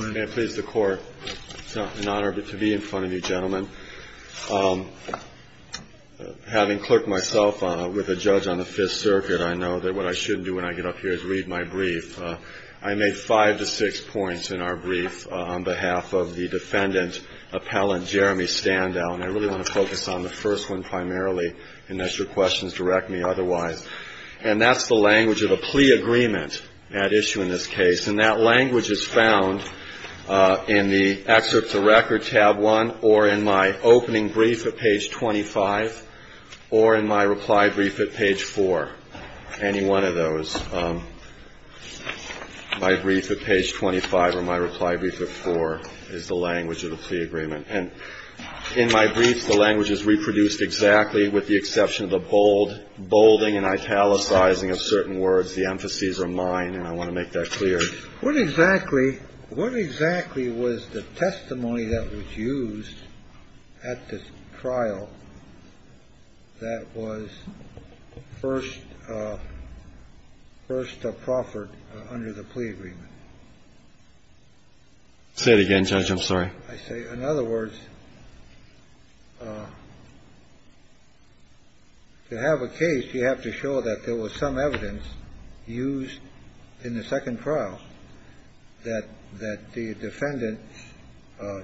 May I please the court, it's an honor to be in front of you gentlemen. Having clerked myself with a judge on the Fifth Circuit, I know that what I shouldn't do when I get up here is read my brief. I made five to six points in our brief on behalf of the defendant, appellant Jeremy Standow, and I really want to focus on the first one primarily, unless your questions direct me otherwise. And that's the language of a plea agreement at issue in this case. And that language is found in the excerpts of record, tab one, or in my opening brief at page 25, or in my reply brief at page four, any one of those. My brief at page 25 or my reply brief at four is the language of the plea agreement. And in my briefs, the language is reproduced exactly with the exception of the bold, bolding and italicizing of certain words. The emphases are mine, and I want to make that clear. What exactly, what exactly was the testimony that was used at the trial that was first, first proffered under the plea agreement? Say it again, Judge. I'm sorry. I say, in other words, to have a case, you have to show that there was some evidence used in the second trial that the defendant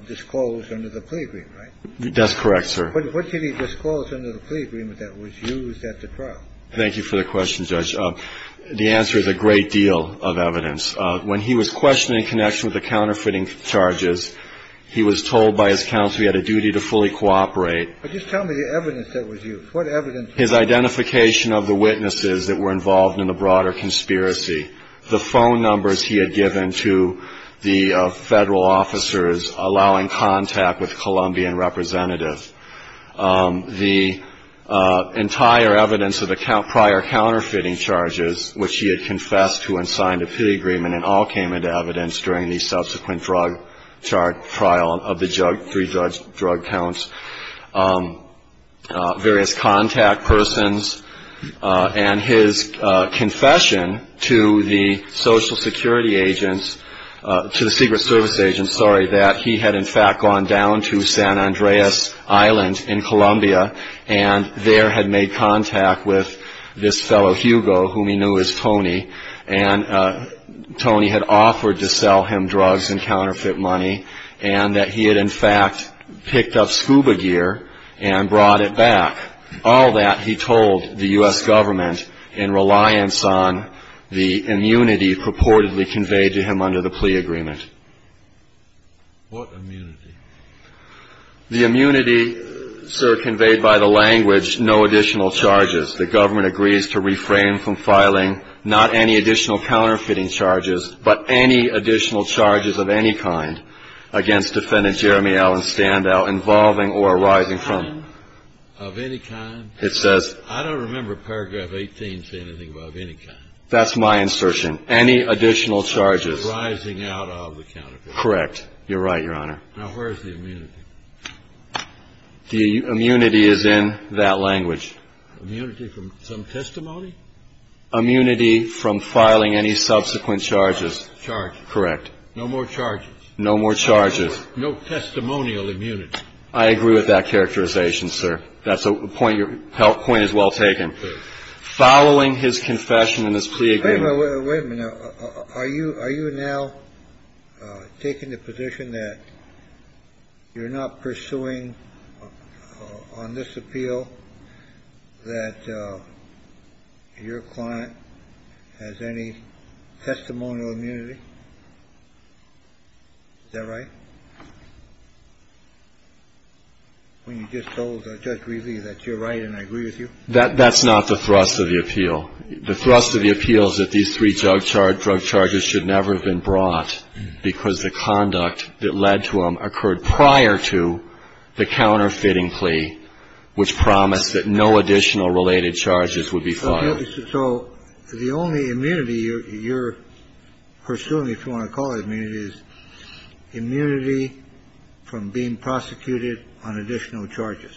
disclosed under the plea agreement, right? That's correct, sir. What did he disclose under the plea agreement that was used at the trial? Thank you for the question, Judge. The answer is a great deal of evidence. When he was questioned in connection with the counterfeiting charges, he was told by his counsel he had a duty to fully cooperate. But just tell me the evidence that was used. What evidence? His identification of the witnesses that were involved in the broader conspiracy. The phone numbers he had given to the Federal officers allowing contact with the Colombian representative. The entire evidence of the prior counterfeiting charges, which he had confessed to and signed a plea agreement and all came into evidence during the subsequent drug trial of the three drug counts. Various contact persons and his confession to the Social Security agents, to the Secret Service agents, that he had, in fact, gone down to San Andreas Island in Colombia and there had made contact with this fellow, Hugo, whom he knew as Tony. And Tony had offered to sell him drugs and counterfeit money, and that he had, in fact, picked up scuba gear and brought it back. All that, he told the U.S. government in reliance on the immunity purportedly conveyed to him under the plea agreement. What immunity? The immunity, sir, conveyed by the language, no additional charges. The government agrees to refrain from filing not any additional counterfeiting charges, but any additional charges of any kind against Defendant Jeremy Allen Standout involving or arising from. Of any kind? It says. I don't remember paragraph 18 say anything about of any kind. That's my insertion. Any additional charges. Rising out of the counterfeit. Correct. You're right, Your Honor. Now, where's the immunity? The immunity is in that language. Immunity from some testimony? Immunity from filing any subsequent charges. Charges. Correct. No more charges. No more charges. No testimonial immunity. I agree with that characterization, sir. That's a point your point is well taken. Following his confession in his plea agreement. Wait a minute. Now, are you now taking the position that you're not pursuing on this appeal that your client has any testimonial immunity? Is that right? When you just told Judge Reilly that you're right and I agree with you? That's not the thrust of the appeal. The thrust of the appeal is that these three drug charges should never have been brought because the conduct that led to them occurred prior to the counterfeiting plea, which promised that no additional related charges would be filed. So the only immunity you're pursuing, if you want to call it immunity, is immunity from being prosecuted on additional charges.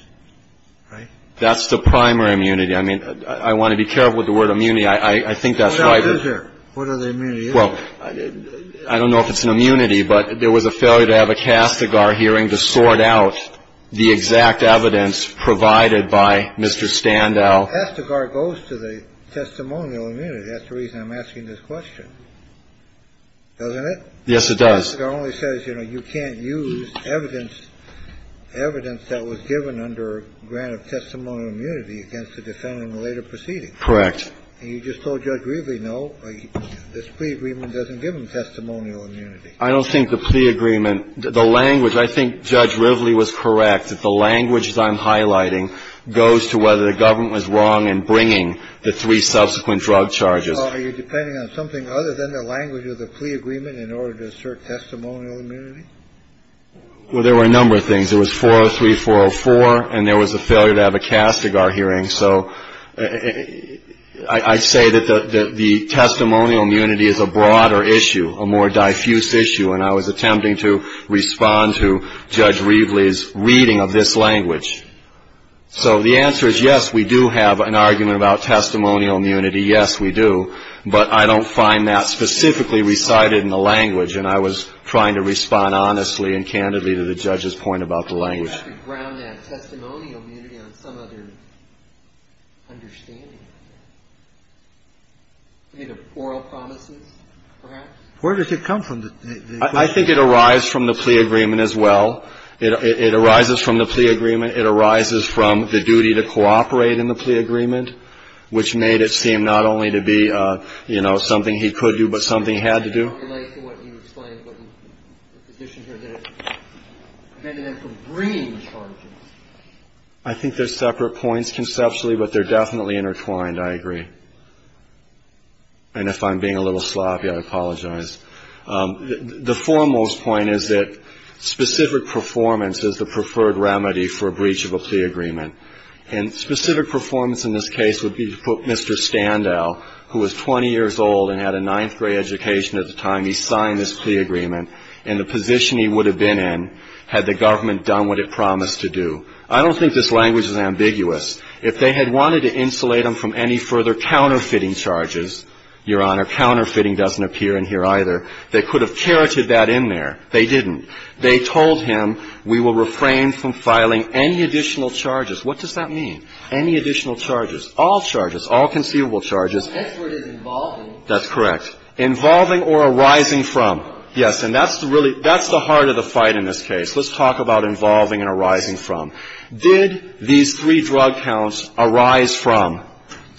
Right? That's the primary immunity. I mean, I want to be careful with the word immunity. I think that's right. What is there? What are the immunities? Well, I don't know if it's an immunity, but there was a failure to have a Castigar hearing to sort out the exact evidence provided by Mr. Standow. Castigar goes to the testimonial immunity. That's the reason I'm asking this question. Doesn't it? Yes, it does. But Castigar only says, you know, you can't use evidence, evidence that was given under grant of testimonial immunity against the defendant in the later proceeding. Correct. And you just told Judge Rivley, no, this plea agreement doesn't give him testimonial immunity. I don't think the plea agreement, the language, I think Judge Rivley was correct. The language that I'm highlighting goes to whether the government was wrong in bringing the three subsequent drug charges. Are you depending on something other than the language of the plea agreement in order to assert testimonial immunity? Well, there were a number of things. It was 403, 404. And there was a failure to have a Castigar hearing. So I say that the testimonial immunity is a broader issue, a more diffuse issue. And I was attempting to respond to Judge Rivley's reading of this language. So the answer is, yes, we do have an argument about testimonial immunity. Yes, we do. But I don't find that specifically recited in the language. And I was trying to respond honestly and candidly to the judge's point about the language. Can't we ground that testimonial immunity on some other understanding? Do you think of oral promises, perhaps? Where does it come from? I think it arises from the plea agreement as well. It arises from the plea agreement. I think there are separate points conceptually, but they're definitely intertwined. I agree. And if I'm being a little sloppy, I apologize. The foremost point is that specific performance is the preferred remedy for a breach of a plea agreement. I don't think this language is ambiguous. If they had wanted to insulate him from any further counterfeiting charges, Your Honor, counterfeiting doesn't appear in here either. They could have charited that in there. They didn't. They told him, we will refrain from filing any additional charges. I don't know. All charges. All conceivable charges. Next word is involving. That's correct. Involving or arising from. Yes. And that's really the heart of the fight in this case. Let's talk about involving and arising from. Did these three drug counts arise from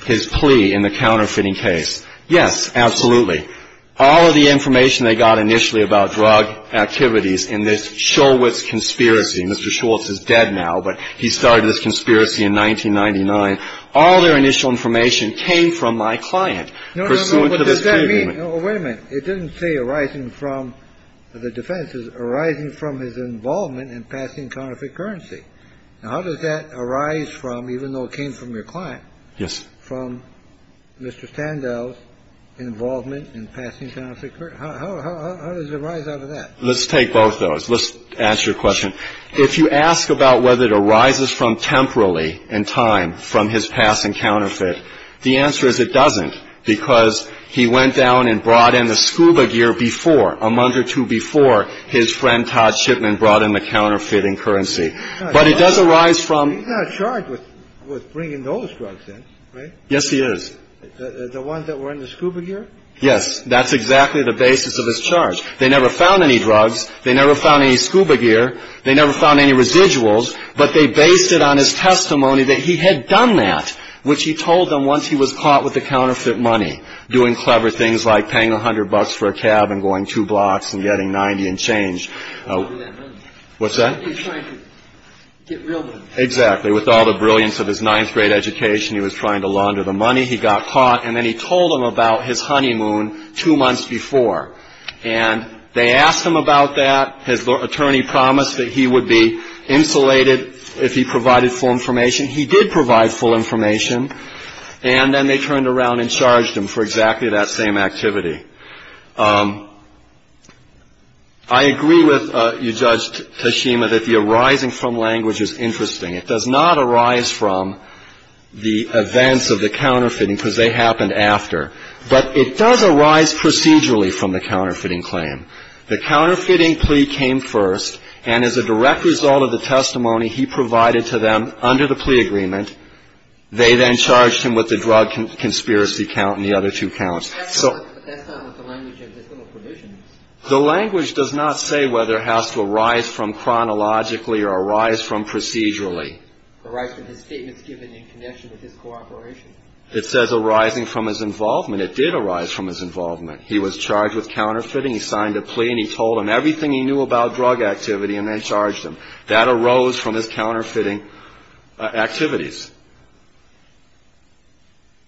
his plea in the counterfeiting case? Yes, absolutely. All of the information they got initially about drug activities in this Shulwitz conspiracy Mr. Shulwitz is dead now, but he started this conspiracy in 1999. All their initial information came from my client. No, no, no. What does that mean? Wait a minute. It didn't say arising from. The defense is arising from his involvement in passing counterfeit currency. Now, how does that arise from, even though it came from your client? Yes. From Mr. Standell's involvement in passing counterfeit currency. How does it arise out of that? Let's take both those. Let's answer your question. If you ask about whether it arises from temporally in time from his passing counterfeit, the answer is it doesn't because he went down and brought in the scuba gear before, a month or two before, his friend Todd Shipman brought in the counterfeiting currency. But it does arise from. He's not charged with bringing those drugs in, right? Yes, he is. The ones that were in the scuba gear? Yes. That's exactly the basis of his charge. They never found any drugs. They never found any scuba gear. They never found any residuals. But they based it on his testimony that he had done that, which he told them once he was caught with the counterfeit money, doing clever things like paying 100 bucks for a cab and going two blocks and getting 90 and change. What's that? He was trying to get real money. Exactly. With all the brilliance of his ninth grade education, he was trying to launder the money. He got caught. And then he told them about his honeymoon two months before. And they asked him about that. His attorney promised that he would be insulated if he provided full information. He did provide full information. And then they turned around and charged him for exactly that same activity. I agree with you, Judge Tashima, that the arising from language is interesting. It does not arise from the events of the counterfeiting because they happened after. But it does arise procedurally from the counterfeiting claim. The counterfeiting plea came first. And as a direct result of the testimony he provided to them under the plea agreement, they then charged him with the drug conspiracy count and the other two counts. But that's not what the language of this little provision is. The language does not say whether it has to arise from chronologically or arise from procedurally. Arise from his statements given in connection with his cooperation. It says arising from his involvement. It did arise from his involvement. He was charged with counterfeiting. He signed a plea and he told them everything he knew about drug activity and they charged him. That arose from his counterfeiting activities.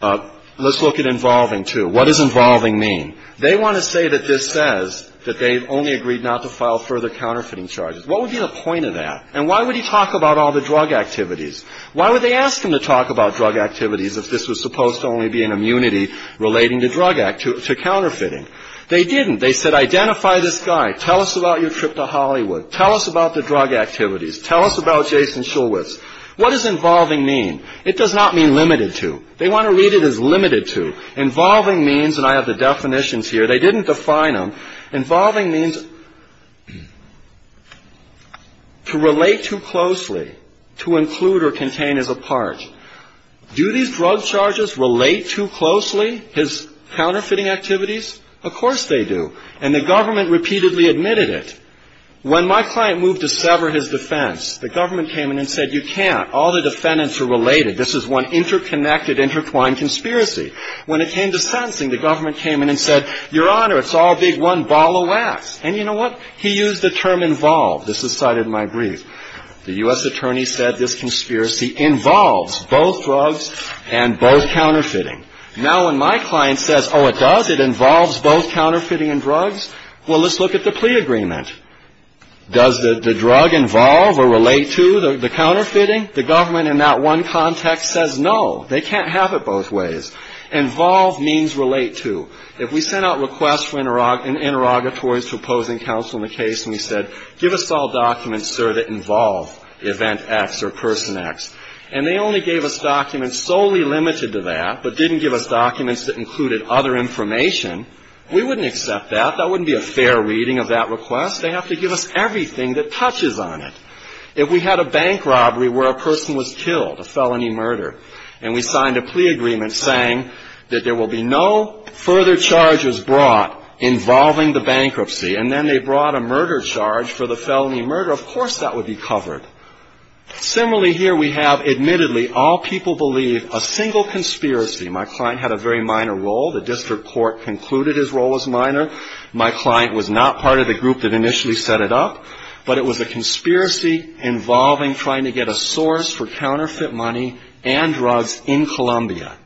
Let's look at involving, too. What does involving mean? They want to say that this says that they've only agreed not to file further counterfeiting charges. What would be the point of that? And why would he talk about all the drug activities? Why would they ask him to talk about drug activities if this was supposed to only be an immunity relating to drug activities, to counterfeiting? They didn't. They said identify this guy. Tell us about your trip to Hollywood. Tell us about the drug activities. Tell us about Jason Shulwitz. What does involving mean? It does not mean limited to. They want to read it as limited to. Involving means, and I have the definitions here. They didn't define them. Involving means to relate too closely, to include or contain as a part. Do these drug charges relate too closely, his counterfeiting activities? Of course they do. And the government repeatedly admitted it. When my client moved to sever his defense, the government came in and said you can't. All the defendants are related. This is one interconnected, intertwined conspiracy. When it came to sentencing, the government came in and said, your honor, it's all big one ball of wax. And you know what? He used the term involved. This is cited in my brief. The U.S. attorney said this conspiracy involves both drugs and both counterfeiting. Now when my client says, oh, it does? It involves both counterfeiting and drugs? Well, let's look at the plea agreement. Does the drug involve or relate to the counterfeiting? The government in that one context says no. They can't have it both ways. Involve means relate to. If we sent out requests for interrogatories to opposing counsel in the case and we said give us all documents, sir, that involve event X or person X, and they only gave us documents solely limited to that, but didn't give us documents that included other information, we wouldn't accept that. That wouldn't be a fair reading of that request. They have to give us everything that touches on it. If we had a bank robbery where a person was killed, a felony murder, and we signed a plea agreement saying that there will be no further charges brought involving the bankruptcy and then they brought a murder charge for the felony murder, of course that would be covered. Similarly, here we have admittedly all people believe a single conspiracy. My client had a very minor role. The district court concluded his role was minor. My client was not part of the group that initially set it up. But it was a conspiracy involving trying to get a source for counterfeit money and drugs in Columbia.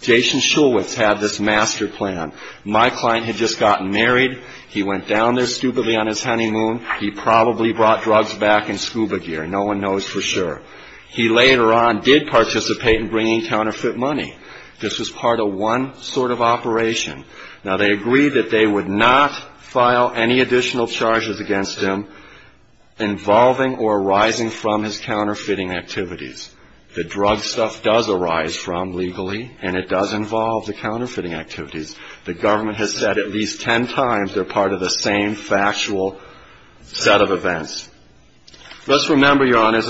Jason Schulwitz had this master plan. My client had just gotten married. He went down there stupidly on his honeymoon. He probably brought drugs back in scuba gear. No one knows for sure. He later on did participate in bringing counterfeit money. This was part of one sort of operation. Now, they agreed that they would not file any additional charges against him involving or arising from his counterfeiting activities. The drug stuff does arise from legally, and it does involve the counterfeiting activities. The government has said at least ten times they're part of the same factual set of events. Let's remember, Your Honor,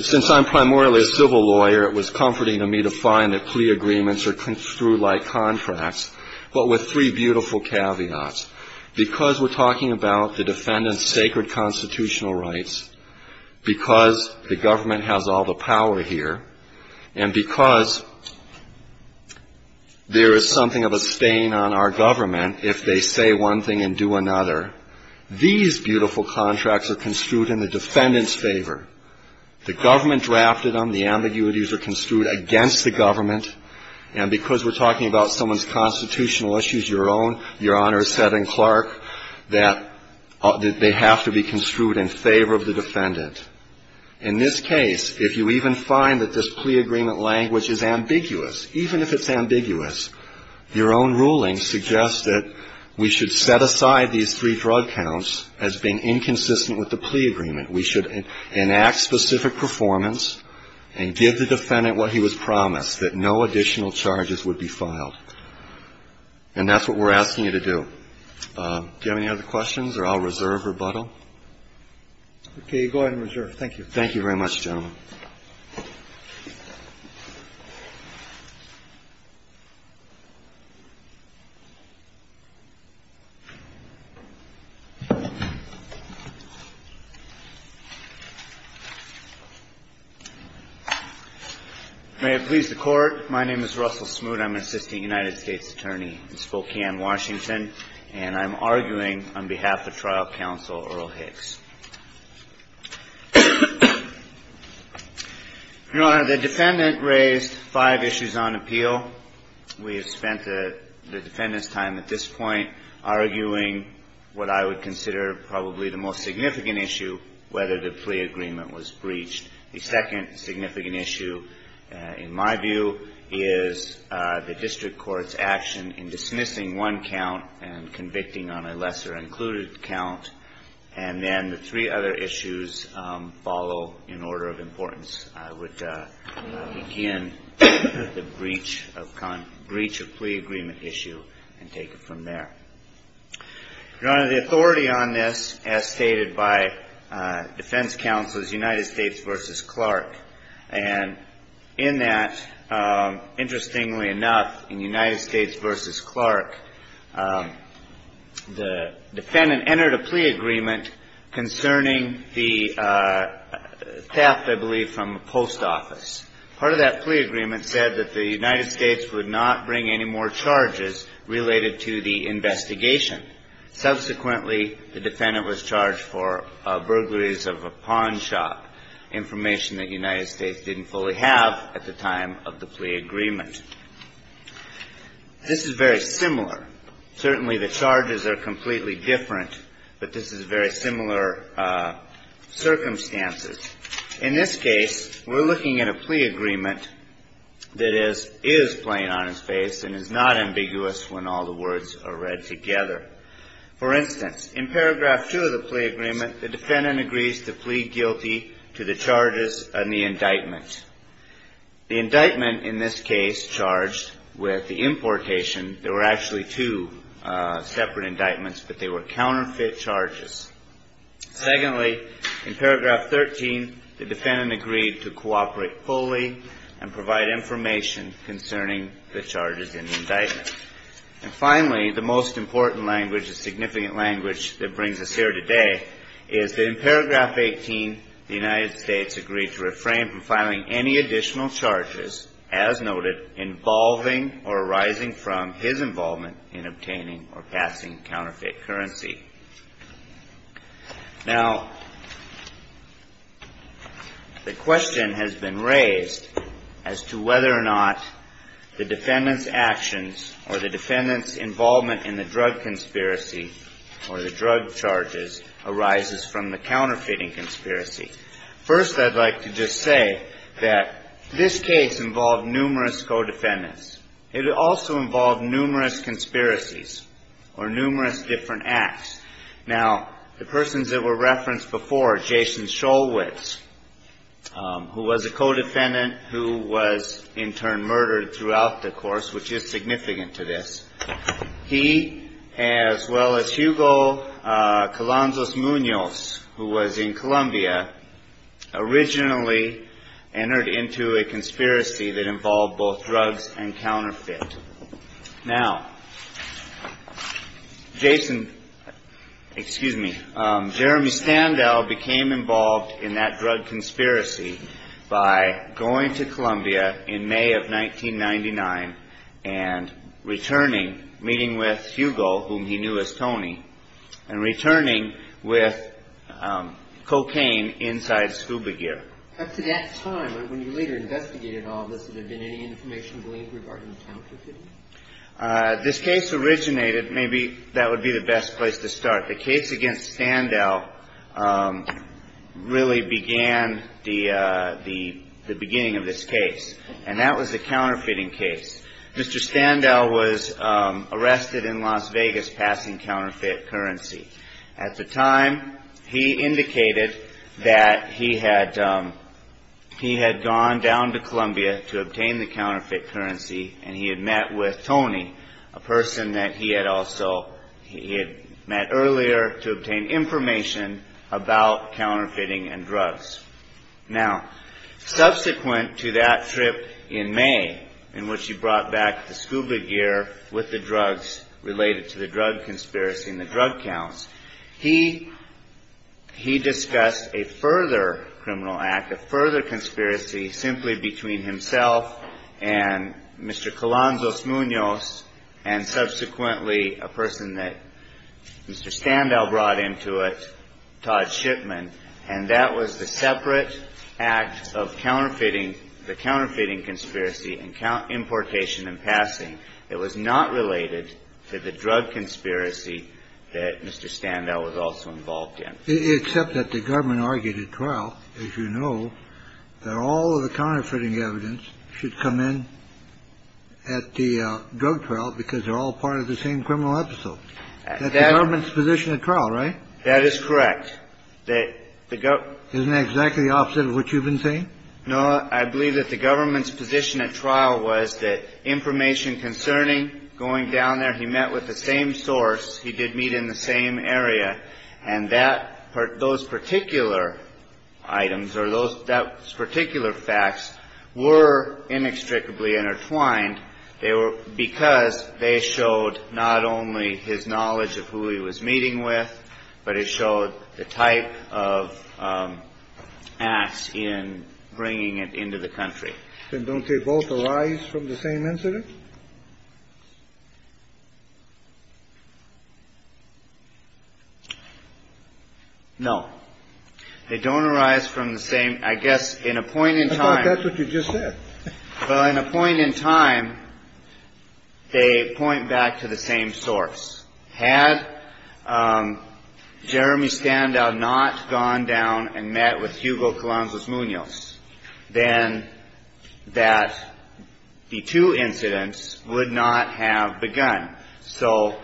since I'm primarily a civil lawyer, it was comforting to me to find that plea agreements are screw-like contracts. But with three beautiful caveats. Because we're talking about the defendant's sacred constitutional rights, because the government has all the power here, and because there is something of a stain on our government if they say one thing and do another, these beautiful contracts are construed in the defendant's favor. The government drafted them. The ambiguities are construed against the government. And because we're talking about someone's constitutional issues, Your Honor said in Clark that they have to be construed in favor of the defendant. In this case, if you even find that this plea agreement language is ambiguous, even if it's ambiguous, your own ruling suggests that we should set aside these three drug counts as being inconsistent with the plea agreement. We should enact specific performance and give the defendant what he was promised, that no additional charges would be filed. And that's what we're asking you to do. Do you have any other questions, or I'll reserve rebuttal? Okay. You go ahead and reserve. Thank you very much, gentlemen. May it please the Court. My name is Russell Smoot. I'm an assistant United States attorney in Spokane, Washington, and I'm arguing on behalf of trial counsel Earl Hicks. Your Honor, the defendant raised five issues on appeal. We have spent the defendant's time at this point arguing what I would consider probably the most significant issue, whether the plea agreement was breached. The second significant issue, in my view, is the district court's action in dismissing one count and convicting on a lesser-included count. And then the three other issues follow in order of importance. I would begin the breach of plea agreement issue and take it from there. Your Honor, the authority on this, as stated by defense counsel, is United States v. Clark. And in that, interestingly enough, in United States v. Clark, the defendant entered a plea agreement concerning the theft, I believe, from a post office. Part of that plea agreement said that the United States would not bring any more charges related to the investigation. Subsequently, the defendant was charged for burglaries of a pawn shop, information that the United States didn't fully have at the time of the plea agreement. This is very similar. Certainly the charges are completely different, but this is very similar circumstances. In this case, we're looking at a plea agreement that is plain on its face and is not ambiguous when all the words are read together. For instance, in paragraph two of the plea agreement, the defendant agrees to plead guilty to the charges on the indictment. The indictment, in this case, charged with the importation. There were actually two separate indictments, but they were counterfeit charges. Secondly, in paragraph 13, the defendant agreed to cooperate fully and provide information concerning the charges in the indictment. And finally, the most important language, the significant language that brings us here today, is that in paragraph 18, the United States agreed to refrain from filing any additional charges, as noted, involving or arising from his involvement in obtaining or passing counterfeit currency. Now, the question has been raised as to whether or not the defendant's actions or the defendant's involvement in the drug conspiracy or the drug charges arises from the counterfeiting conspiracy. First, I'd like to just say that this case involved numerous co-defendants. It also involved numerous conspiracies or numerous different acts. Now, the persons that were referenced before, Jason Shulwitz, who was a co-defendant who was, in turn, murdered throughout the course, which is significant to this. He, as well as Hugo Calanzos Munoz, who was in Colombia, originally entered into a conspiracy that involved both drugs and counterfeit. Now, Jason, excuse me, Jeremy Standell became involved in that drug conspiracy by going to Colombia in May of 1999 and returning, meeting with Hugo, whom he knew as Tony, and returning with cocaine inside scuba gear. Up to that time, when you later investigated all of this, would there have been any information gleaned regarding the counterfeiting? This case originated, maybe that would be the best place to start. The case against Standell really began the beginning of this case, and that was a counterfeiting case. Mr. Standell was arrested in Las Vegas passing counterfeit currency. At the time, he indicated that he had gone down to Colombia to obtain the counterfeit currency, and he had met with Tony, a person that he had also met earlier, to obtain information about counterfeiting and drugs. Now, subsequent to that trip in May, in which he brought back the scuba gear with the drugs related to the drug conspiracy and the drug counts, he discussed a further criminal act, a further conspiracy, simply between himself and Mr. Calanzos Munoz, and subsequently a person that Mr. Standell brought into it, Todd Shipman, and that was the separate act of counterfeiting, the counterfeiting conspiracy and importation and passing. It was not related to the drug conspiracy that Mr. Standell was also involved in. Except that the government argued at trial, as you know, that all of the counterfeiting evidence should come in at the drug trial because they're all part of the same criminal episode. That's the government's position at trial, right? That is correct. Isn't that exactly the opposite of what you've been saying? No. I believe that the government's position at trial was that information concerning going down there, he met with the same source, he did meet in the same area, and that those particular items or those particular facts were inextricably intertwined. They were because they showed not only his knowledge of who he was meeting with but it showed the type of acts in bringing it into the country. Then don't they both arise from the same incident? No. They don't arise from the same. I guess in a point in time. I thought that's what you just said. Well, in a point in time, they point back to the same source. Had Jeremy Standout not gone down and met with Hugo Columbus Munoz, then that the two incidents would not have begun. So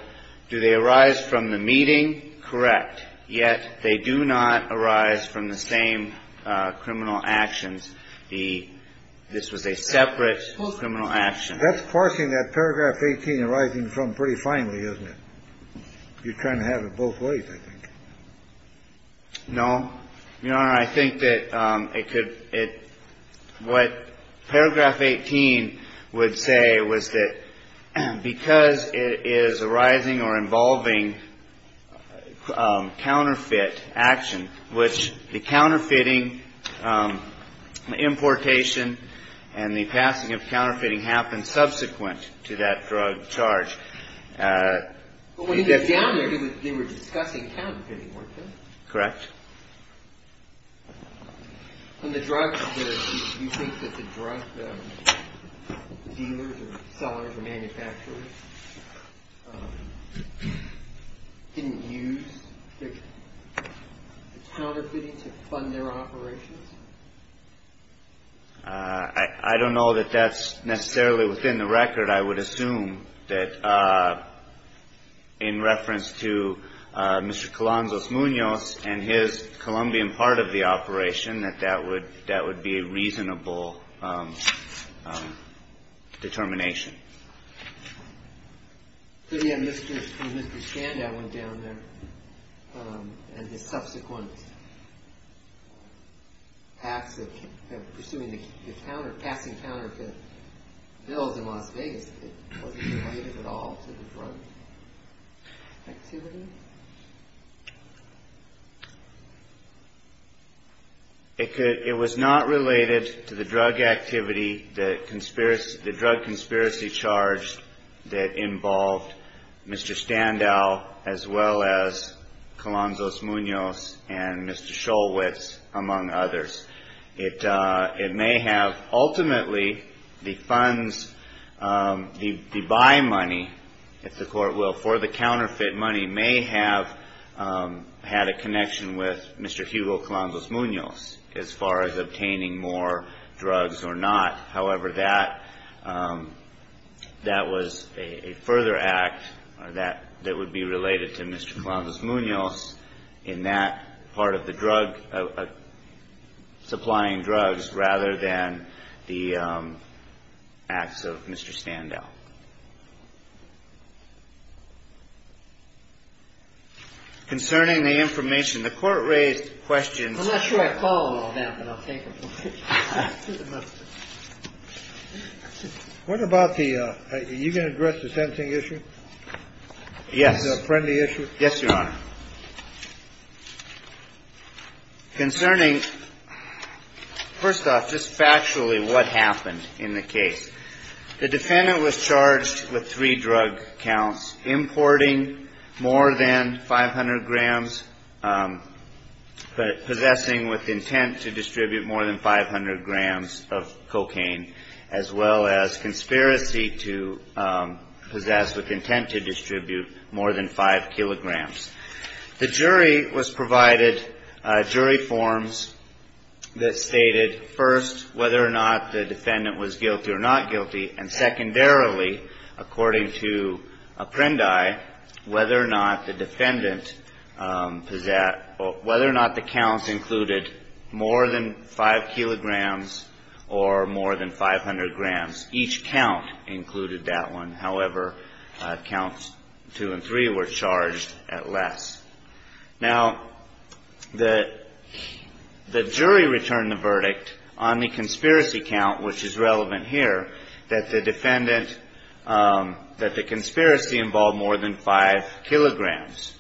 do they arise from the meeting? Correct. Yet they do not arise from the same criminal actions. This was a separate criminal action. That's parsing that paragraph 18 arising from pretty finely, isn't it? You're trying to have it both ways, I think. No. Your Honor, I think that it could – what paragraph 18 would say was that because it is arising or involving counterfeit action, which the counterfeiting importation and the passing of counterfeiting happened subsequent to that drug charge. But when he was down there, they were discussing counterfeiting, weren't they? Correct. And the drug dealers or sellers or manufacturers didn't use the counterfeiting to fund their operations? I don't know that that's necessarily within the record. I would assume that in reference to Mr. Columbus Munoz and his Colombian part of the operation, that that would be a reasonable determination. But, yeah, when Mr. Chanda went down there and his subsequent acts of pursuing the counter – passing counterfeit bills in Las Vegas, it wasn't related at all to the drug activity? It could – it was not related to the drug activity that – the drug conspiracy charge that involved Mr. Standow as well as Columbus Munoz and Mr. Shulwitz, among others. It may have – ultimately, the funds – the buy money, if the Court will, for the counterfeit money may have had a connection with Mr. Hugo Columbus Munoz as far as obtaining more drugs or not. However, that – that was a further act that would be related to Mr. Columbus Munoz in that part of the drug – supplying drugs rather than the acts of Mr. Standow. Concerning the information, the Court raised questions – I'm not sure I follow all that, but I'll take it. What about the – are you going to address the sentencing issue? Yes. The Apprendi issue? Yes, Your Honor. Concerning – first off, just factually, what happened in the case? The defendant was charged with three drug counts, importing more than 500 grams, but possessing with intent to distribute more than 500 grams of cocaine, as well as conspiracy to possess with intent to distribute more than 5 kilograms. The jury was provided jury forms that stated, first, whether or not the defendant was guilty or not guilty, and secondarily, according to Apprendi, whether or not the defendant – whether or not the counts included more than 5 kilograms or more than 500 grams. Each count included that one. However, counts two and three were charged at less. Now, the jury returned the verdict on the conspiracy count, which is relevant here, that the defendant – that the conspiracy involved more than 5 kilograms.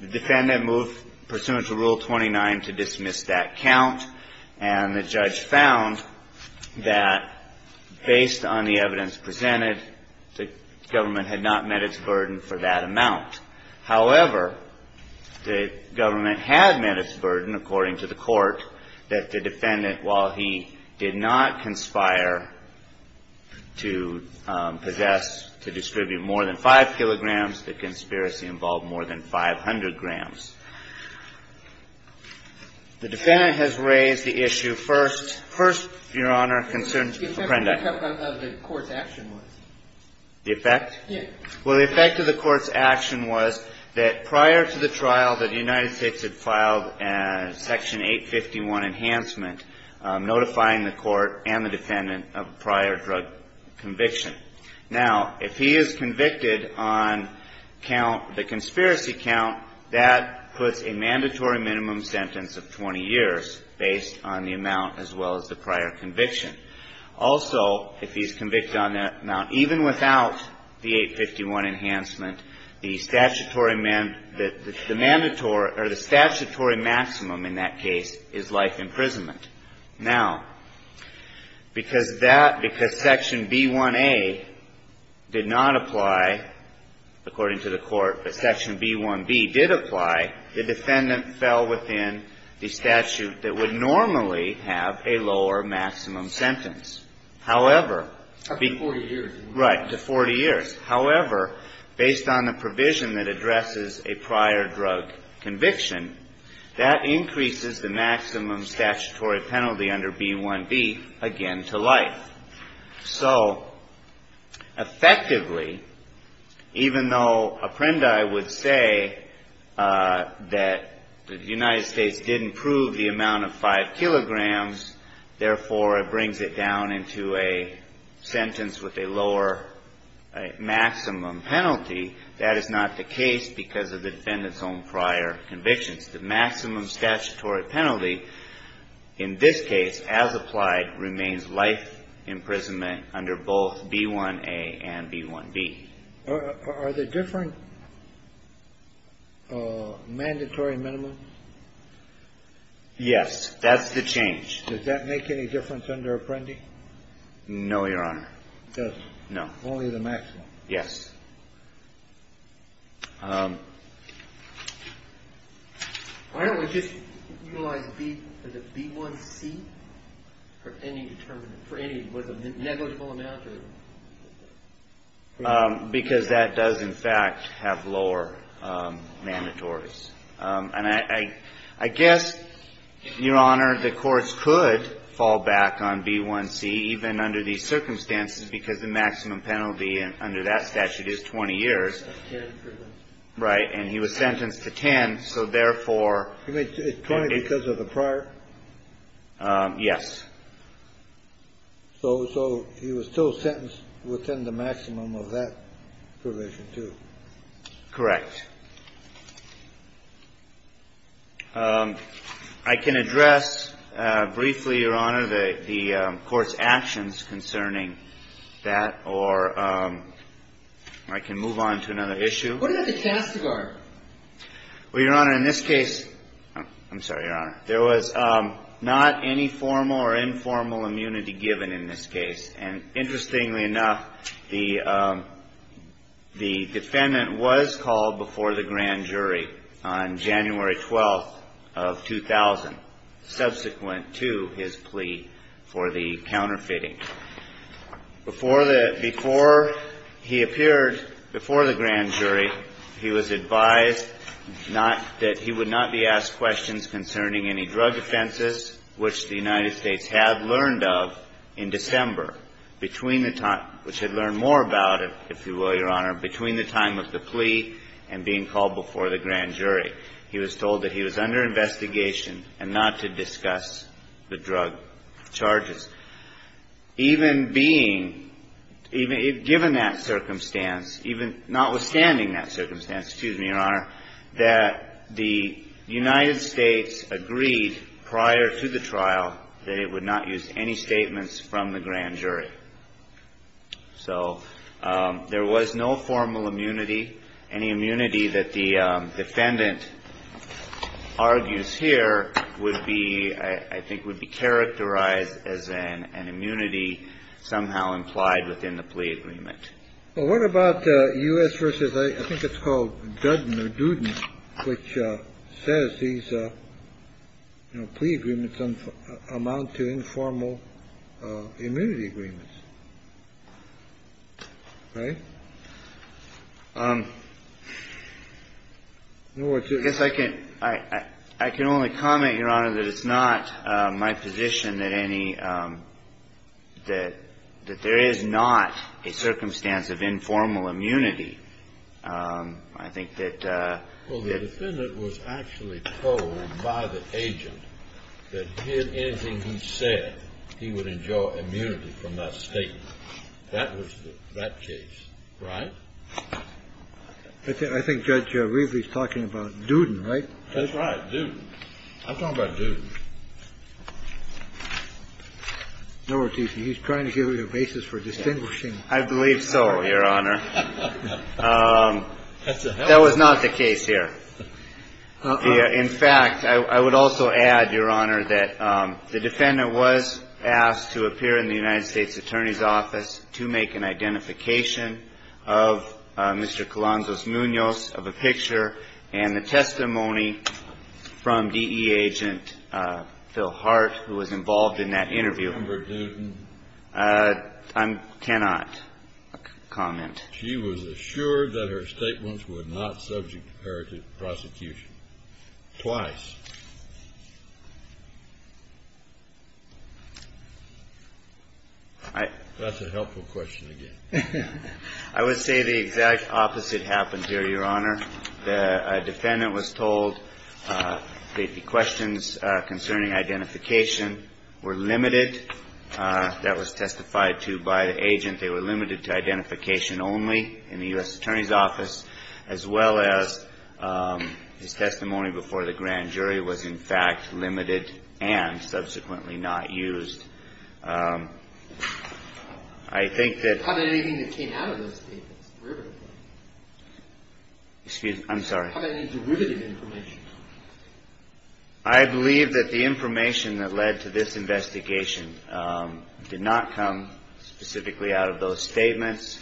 The defendant moved pursuant to Rule 29 to dismiss that count, and the judge found that based on the evidence presented, the government had not met its burden for that amount. However, the government had met its burden, according to the court, that the defendant, while he did not conspire to possess – to distribute more than 5 kilograms, the conspiracy involved more than 500 grams. The defendant has raised the issue first. First, Your Honor, concerns Apprendi. The effect of the court's action was? The effect? Yes. Well, the effect of the court's action was that prior to the trial, that the United States had filed Section 851, Enhancement, notifying the court and the defendant of prior drug conviction. Now, if he is convicted on count – the conspiracy count, that puts a mandatory minimum sentence of 20 years based on the amount as well as the prior conviction. Also, if he's convicted on that amount, even without the 851 Enhancement, the statutory – or the statutory maximum in that case is life imprisonment. Now, because that – because Section B1A did not apply, according to the court, but Section B1B did apply, the defendant fell within the statute that would normally have a lower maximum sentence. However, the – Up to 40 years. Right. To 40 years. However, based on the provision that addresses a prior drug conviction, that increases the maximum statutory penalty under B1B again to life. So, effectively, even though Apprendi would say that the United States didn't prove the amount of 5 kilograms, therefore, it brings it down into a sentence with a lower maximum penalty, that is not the case because of the defendant's own prior convictions. The maximum statutory penalty in this case, as applied, remains life imprisonment under both B1A and B1B. Are there different mandatory minimums? Yes. That's the change. Does that make any difference under Apprendi? No, Your Honor. It does. No. Only the maximum. Yes. Why don't we just utilize B1C for any – was a negligible amount? Because that does, in fact, have lower mandatories. And I guess, Your Honor, the courts could fall back on B1C even under these circumstances because the maximum penalty under that statute is 20 years. Right. And he was sentenced to 10, so therefore – Is 10 because of the prior? Yes. So he was still sentenced within the maximum of that provision, too? Correct. I can address briefly, Your Honor, the court's actions concerning that, or I can move on to another issue. What about the CASTIGAR? Well, Your Honor, in this case – I'm sorry, Your Honor. There was not any formal or informal immunity given in this case. And interestingly enough, the defendant was called before the grand jury on January 12th of 2000, subsequent to his plea for the counterfeiting. Before he appeared before the grand jury, he was advised that he would not be asked questions concerning any drug offenses, which the United States had learned of in December, which had learned more about it, if you will, Your Honor, between the time of the plea and being called before the grand jury. He was told that he was under investigation and not to discuss the drug charges. Even being – given that circumstance, notwithstanding that circumstance, excuse me, Your Honor, that the United States agreed prior to the trial that it would not use any statements from the grand jury. So there was no formal immunity. Any immunity that the defendant argues here would be – I think would be characterized as an immunity somehow implied within the plea agreement. Well, what about U.S. versus – I think it's called Duden or Duden, which says these plea agreements amount to informal immunity agreements. Right? I guess I can only comment, Your Honor, that it's not my position that any – that there is not a circumstance of informal immunity. I think that – Well, the defendant was actually told by the agent that did anything he said, he would enjoy immunity from that statement. That was that case. Right? I think Judge Riefer is talking about Duden, right? That's right. Duden. I'm talking about Duden. He's trying to give you a basis for distinguishing. I believe so, Your Honor. That's a hell of a case. That was not the case here. In fact, I would also add, Your Honor, that the defendant was asked to appear in the United States Attorney's Office to make an identification of Mr. Colanzos of a picture and the testimony from DE agent Phil Hart, who was involved in that interview. Do you remember Duden? I cannot comment. She was assured that her statements were not subject to prosecution twice. That's a helpful question again. I would say the exact opposite happened here, Your Honor. The defendant was told that the questions concerning identification were limited. That was testified to by the agent. They were limited to identification only in the U.S. Attorney's Office, as well as his testimony before the grand jury was, in fact, limited and subsequently not used. I believe that the information that led to this investigation did not come specifically out of those statements,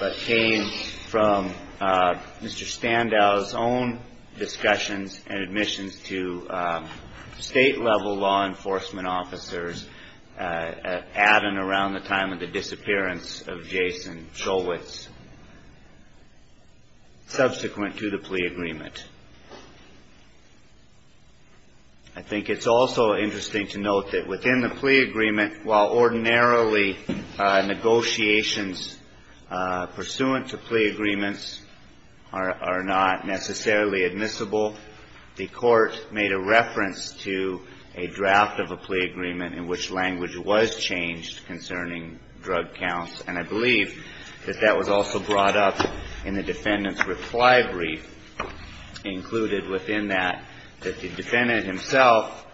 but came from Mr. Standow's own discussions and admissions to state-level law enforcement officers at and around the time of the disappearance of Jason Showitz, subsequent to the plea agreement. I think it's also interesting to note that within the plea agreement, while ordinarily negotiations pursuant to plea agreements are not necessarily admissible, the court made a reference to a draft of a plea agreement in which language was changed concerning drug counts. And I believe that that was also brought up in the defendant's reply brief included within that, that the defendant himself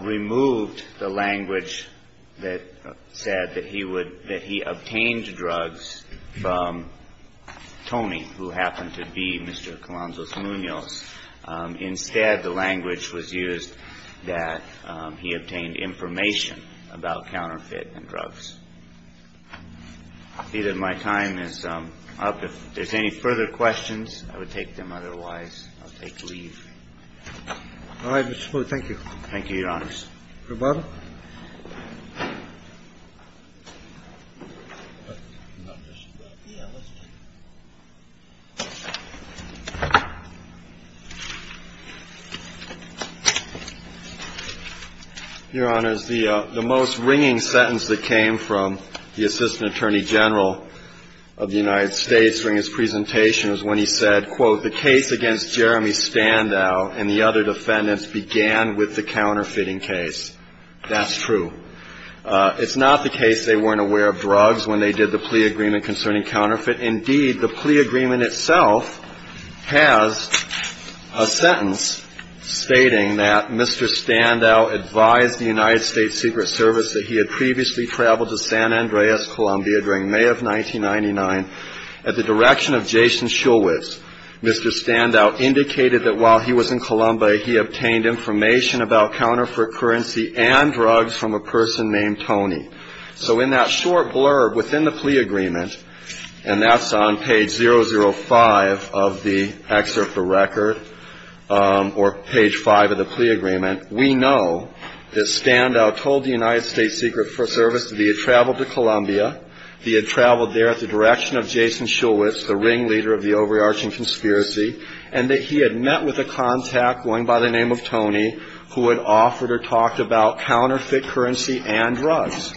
removed the language that said that he obtained drugs from Tony, who happened to be Mr. Colanzos Munoz. Instead, the language was used that he obtained information about counterfeit and drugs. I see that my time is up. If there's any further questions, I would take them otherwise. I'll take leave. All right, Mr. Spooner. Thank you. Thank you, Your Honors. Your Honor, the most ringing sentence that came from the Assistant Attorney General of the United States during his presentation was when he said, quote, The case against Jeremy Standow and the other defendants began with the counterfeiting case. That's true. It's not the case they weren't aware of drugs when they did the plea agreement concerning counterfeit. Indeed, the plea agreement itself has a sentence stating that Mr. Standow advised the United States Secret Service that he had previously traveled to San Andreas, Colombia during May of 1999 at the direction of Jason Schulwitz. Mr. Standow indicated that while he was in Colombia, he obtained information about counterfeit currency and drugs from a person named Tony. So in that short blurb within the plea agreement, and that's on page 005 of the excerpt of the record or page 5 of the plea agreement, we know that Standow told the United States Secret Service that he had traveled to Colombia, he had traveled there at the direction of Jason Schulwitz, the ringleader of the overarching conspiracy, and that he had met with a contact going by the name of Tony who had offered or talked about counterfeit currency and drugs.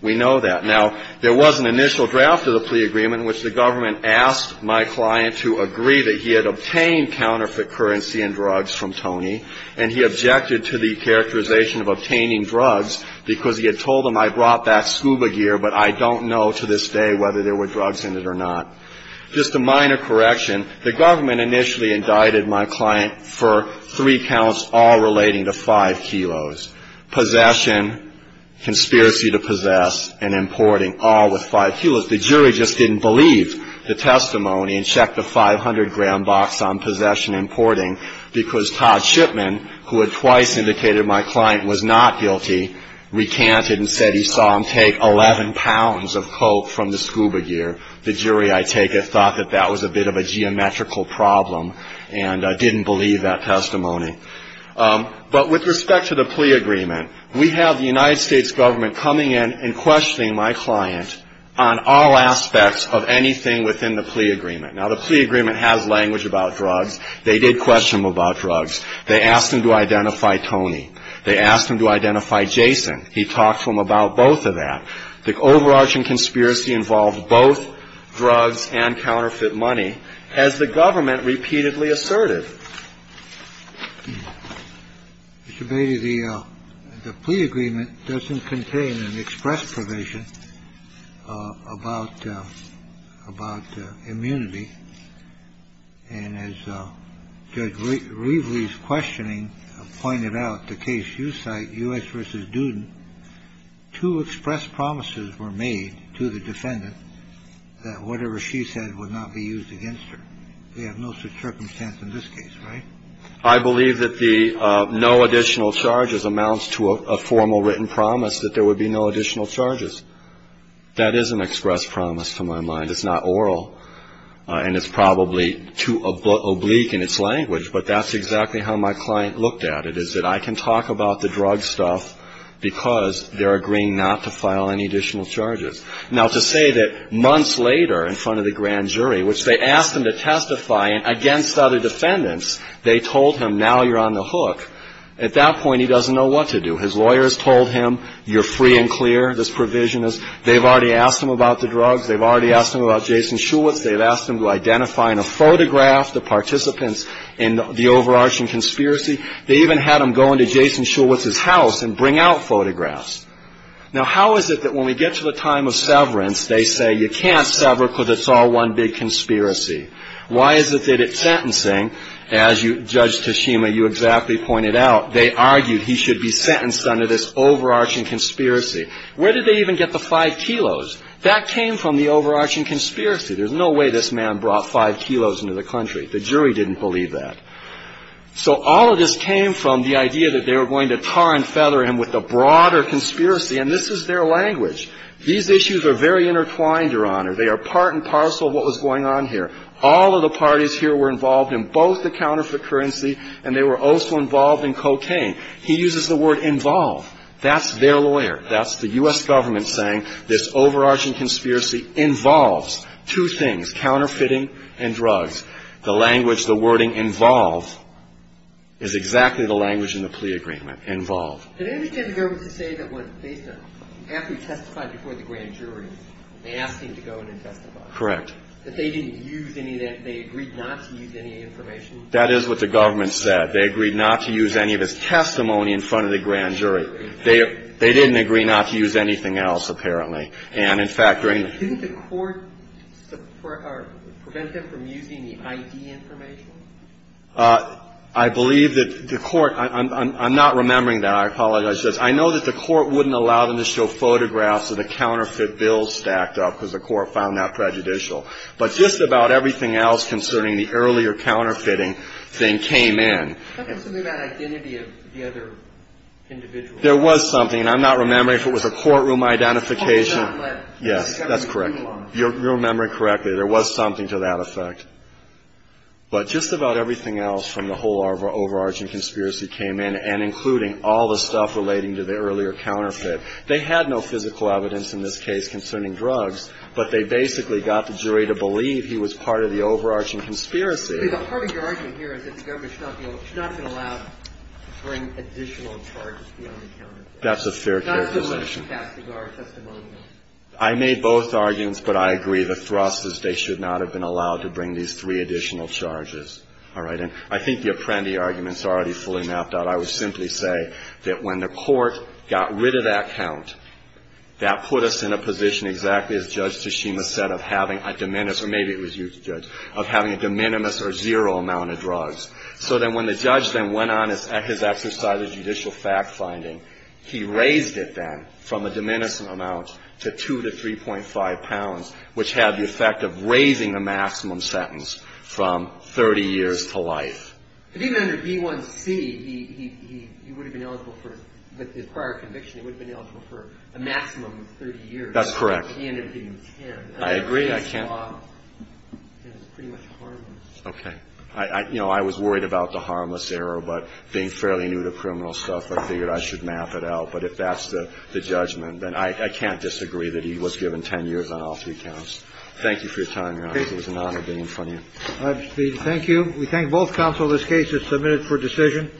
We know that. Now, there was an initial draft of the plea agreement in which the government asked my client to agree that he had obtained counterfeit currency and drugs from Tony, and he objected to the characterization of obtaining drugs because he had told him, I brought that scuba gear, but I don't know to this day whether there were drugs in it or not. Just a minor correction. The government initially indicted my client for three counts all relating to five kilos. Possession, conspiracy to possess, and importing, all with five kilos. The jury just didn't believe the testimony and checked the 500-gram box on possession and importing because Todd Shipman, who had twice indicated my client was not guilty, recanted and said he saw him take 11 pounds of coke from the scuba gear. The jury, I take it, thought that that was a bit of a geometrical problem and didn't believe that testimony. But with respect to the plea agreement, we have the United States government coming in and questioning my client on all aspects of anything within the plea agreement. Now, the plea agreement has language about drugs. They did question him about drugs. They asked him to identify Tony. They asked him to identify Jason. He talked to them about both of that. The overarching conspiracy involved both drugs and counterfeit money, as the government repeatedly asserted. Mr. Beatty, the plea agreement doesn't contain an express provision about immunity. And as Judge Reveley's questioning pointed out, the case you cite, U.S. v. Duden, two express promises were made to the defendant that whatever she said would not be used against her. They have no such circumstance in this case, right? I believe that the no additional charges amounts to a formal written promise that there would be no additional charges. That is an express promise to my mind. It's not oral and it's probably too oblique in its language. But that's exactly how my client looked at it, is that I can talk about the drug stuff because they're agreeing not to file any additional charges. Now, to say that months later in front of the grand jury, which they asked him to testify against other defendants, they told him, now you're on the hook, at that point he doesn't know what to do. His lawyers told him, you're free and clear, this provision is. They've already asked him about the drugs. They've already asked him about Jason Shulwitz. They've asked him to identify in a photograph the participants in the overarching conspiracy. They even had him go into Jason Shulwitz's house and bring out photographs. Now, how is it that when we get to the time of severance, they say you can't sever because it's all one big conspiracy? Why is it that at sentencing, as Judge Tashima, you exactly pointed out, they argued he should be sentenced under this overarching conspiracy? Where did they even get the five kilos? That came from the overarching conspiracy. There's no way this man brought five kilos into the country. The jury didn't believe that. So all of this came from the idea that they were going to tar and feather him with a broader conspiracy, and this is their language. These issues are very intertwined, Your Honor. They are part and parcel of what was going on here. All of the parties here were involved in both the counterfeit currency, and they were also involved in cocaine. He uses the word involve. That's their lawyer. That's the U.S. government saying this overarching conspiracy involves two things, counterfeiting and drugs. The language, the wording involve is exactly the language in the plea agreement, involve. Did they understand the government to say that after he testified before the grand jury, they asked him to go in and testify? Correct. That they didn't use any of that, they agreed not to use any information? That is what the government said. They agreed not to use any of his testimony in front of the grand jury. They didn't agree not to use anything else, apparently. And, in fact, during Didn't the court prevent him from using the ID information? I believe that the court, I'm not remembering that, I apologize. I know that the court wouldn't allow them to show photographs of the counterfeit bills stacked up, because the court found that prejudicial. But just about everything else concerning the earlier counterfeiting thing came in. Something about identity of the other individual. There was something, and I'm not remembering if it was a courtroom identification Yes. That's correct. You're remembering correctly. There was something to that effect. But just about everything else from the whole overarching conspiracy came in, and including all the stuff relating to the earlier counterfeit. They had no physical evidence in this case concerning drugs, but they basically got the jury to believe he was part of the overarching conspiracy. The part of your argument here is that the government should not have been allowed to bring additional charges beyond the counterfeit. That's a fair characterization. I made both arguments, but I agree. The thrust is they should not have been allowed to bring these three additional charges. All right? And I think the Apprendi arguments are already fully mapped out. I would simply say that when the court got rid of that count, that put us in a position, exactly as Judge Tashima said, of having a de minimis, or maybe it was you, Judge, of having a de minimis or zero amount of drugs. So then when the judge then went on at his exercise of judicial fact-finding, he raised it then from a de minimis amount to 2 to 3.5 pounds, which had the effect of raising the maximum sentence from 30 years to life. But even under D1C, he would have been eligible for, with his prior conviction, he would have been eligible for a maximum of 30 years. That's correct. But he ended up getting 10. I agree. I can't. And it's pretty much harmless. Okay. You know, I was worried about the harmless error, but being fairly new to criminal stuff, I figured I should map it out. But if that's the judgment, then I can't disagree that he was given 10 years on all three counts. Thank you for your time, Your Honor. It was an honor being in front of you. Thank you. We thank both counsel. This case is submitted for decision.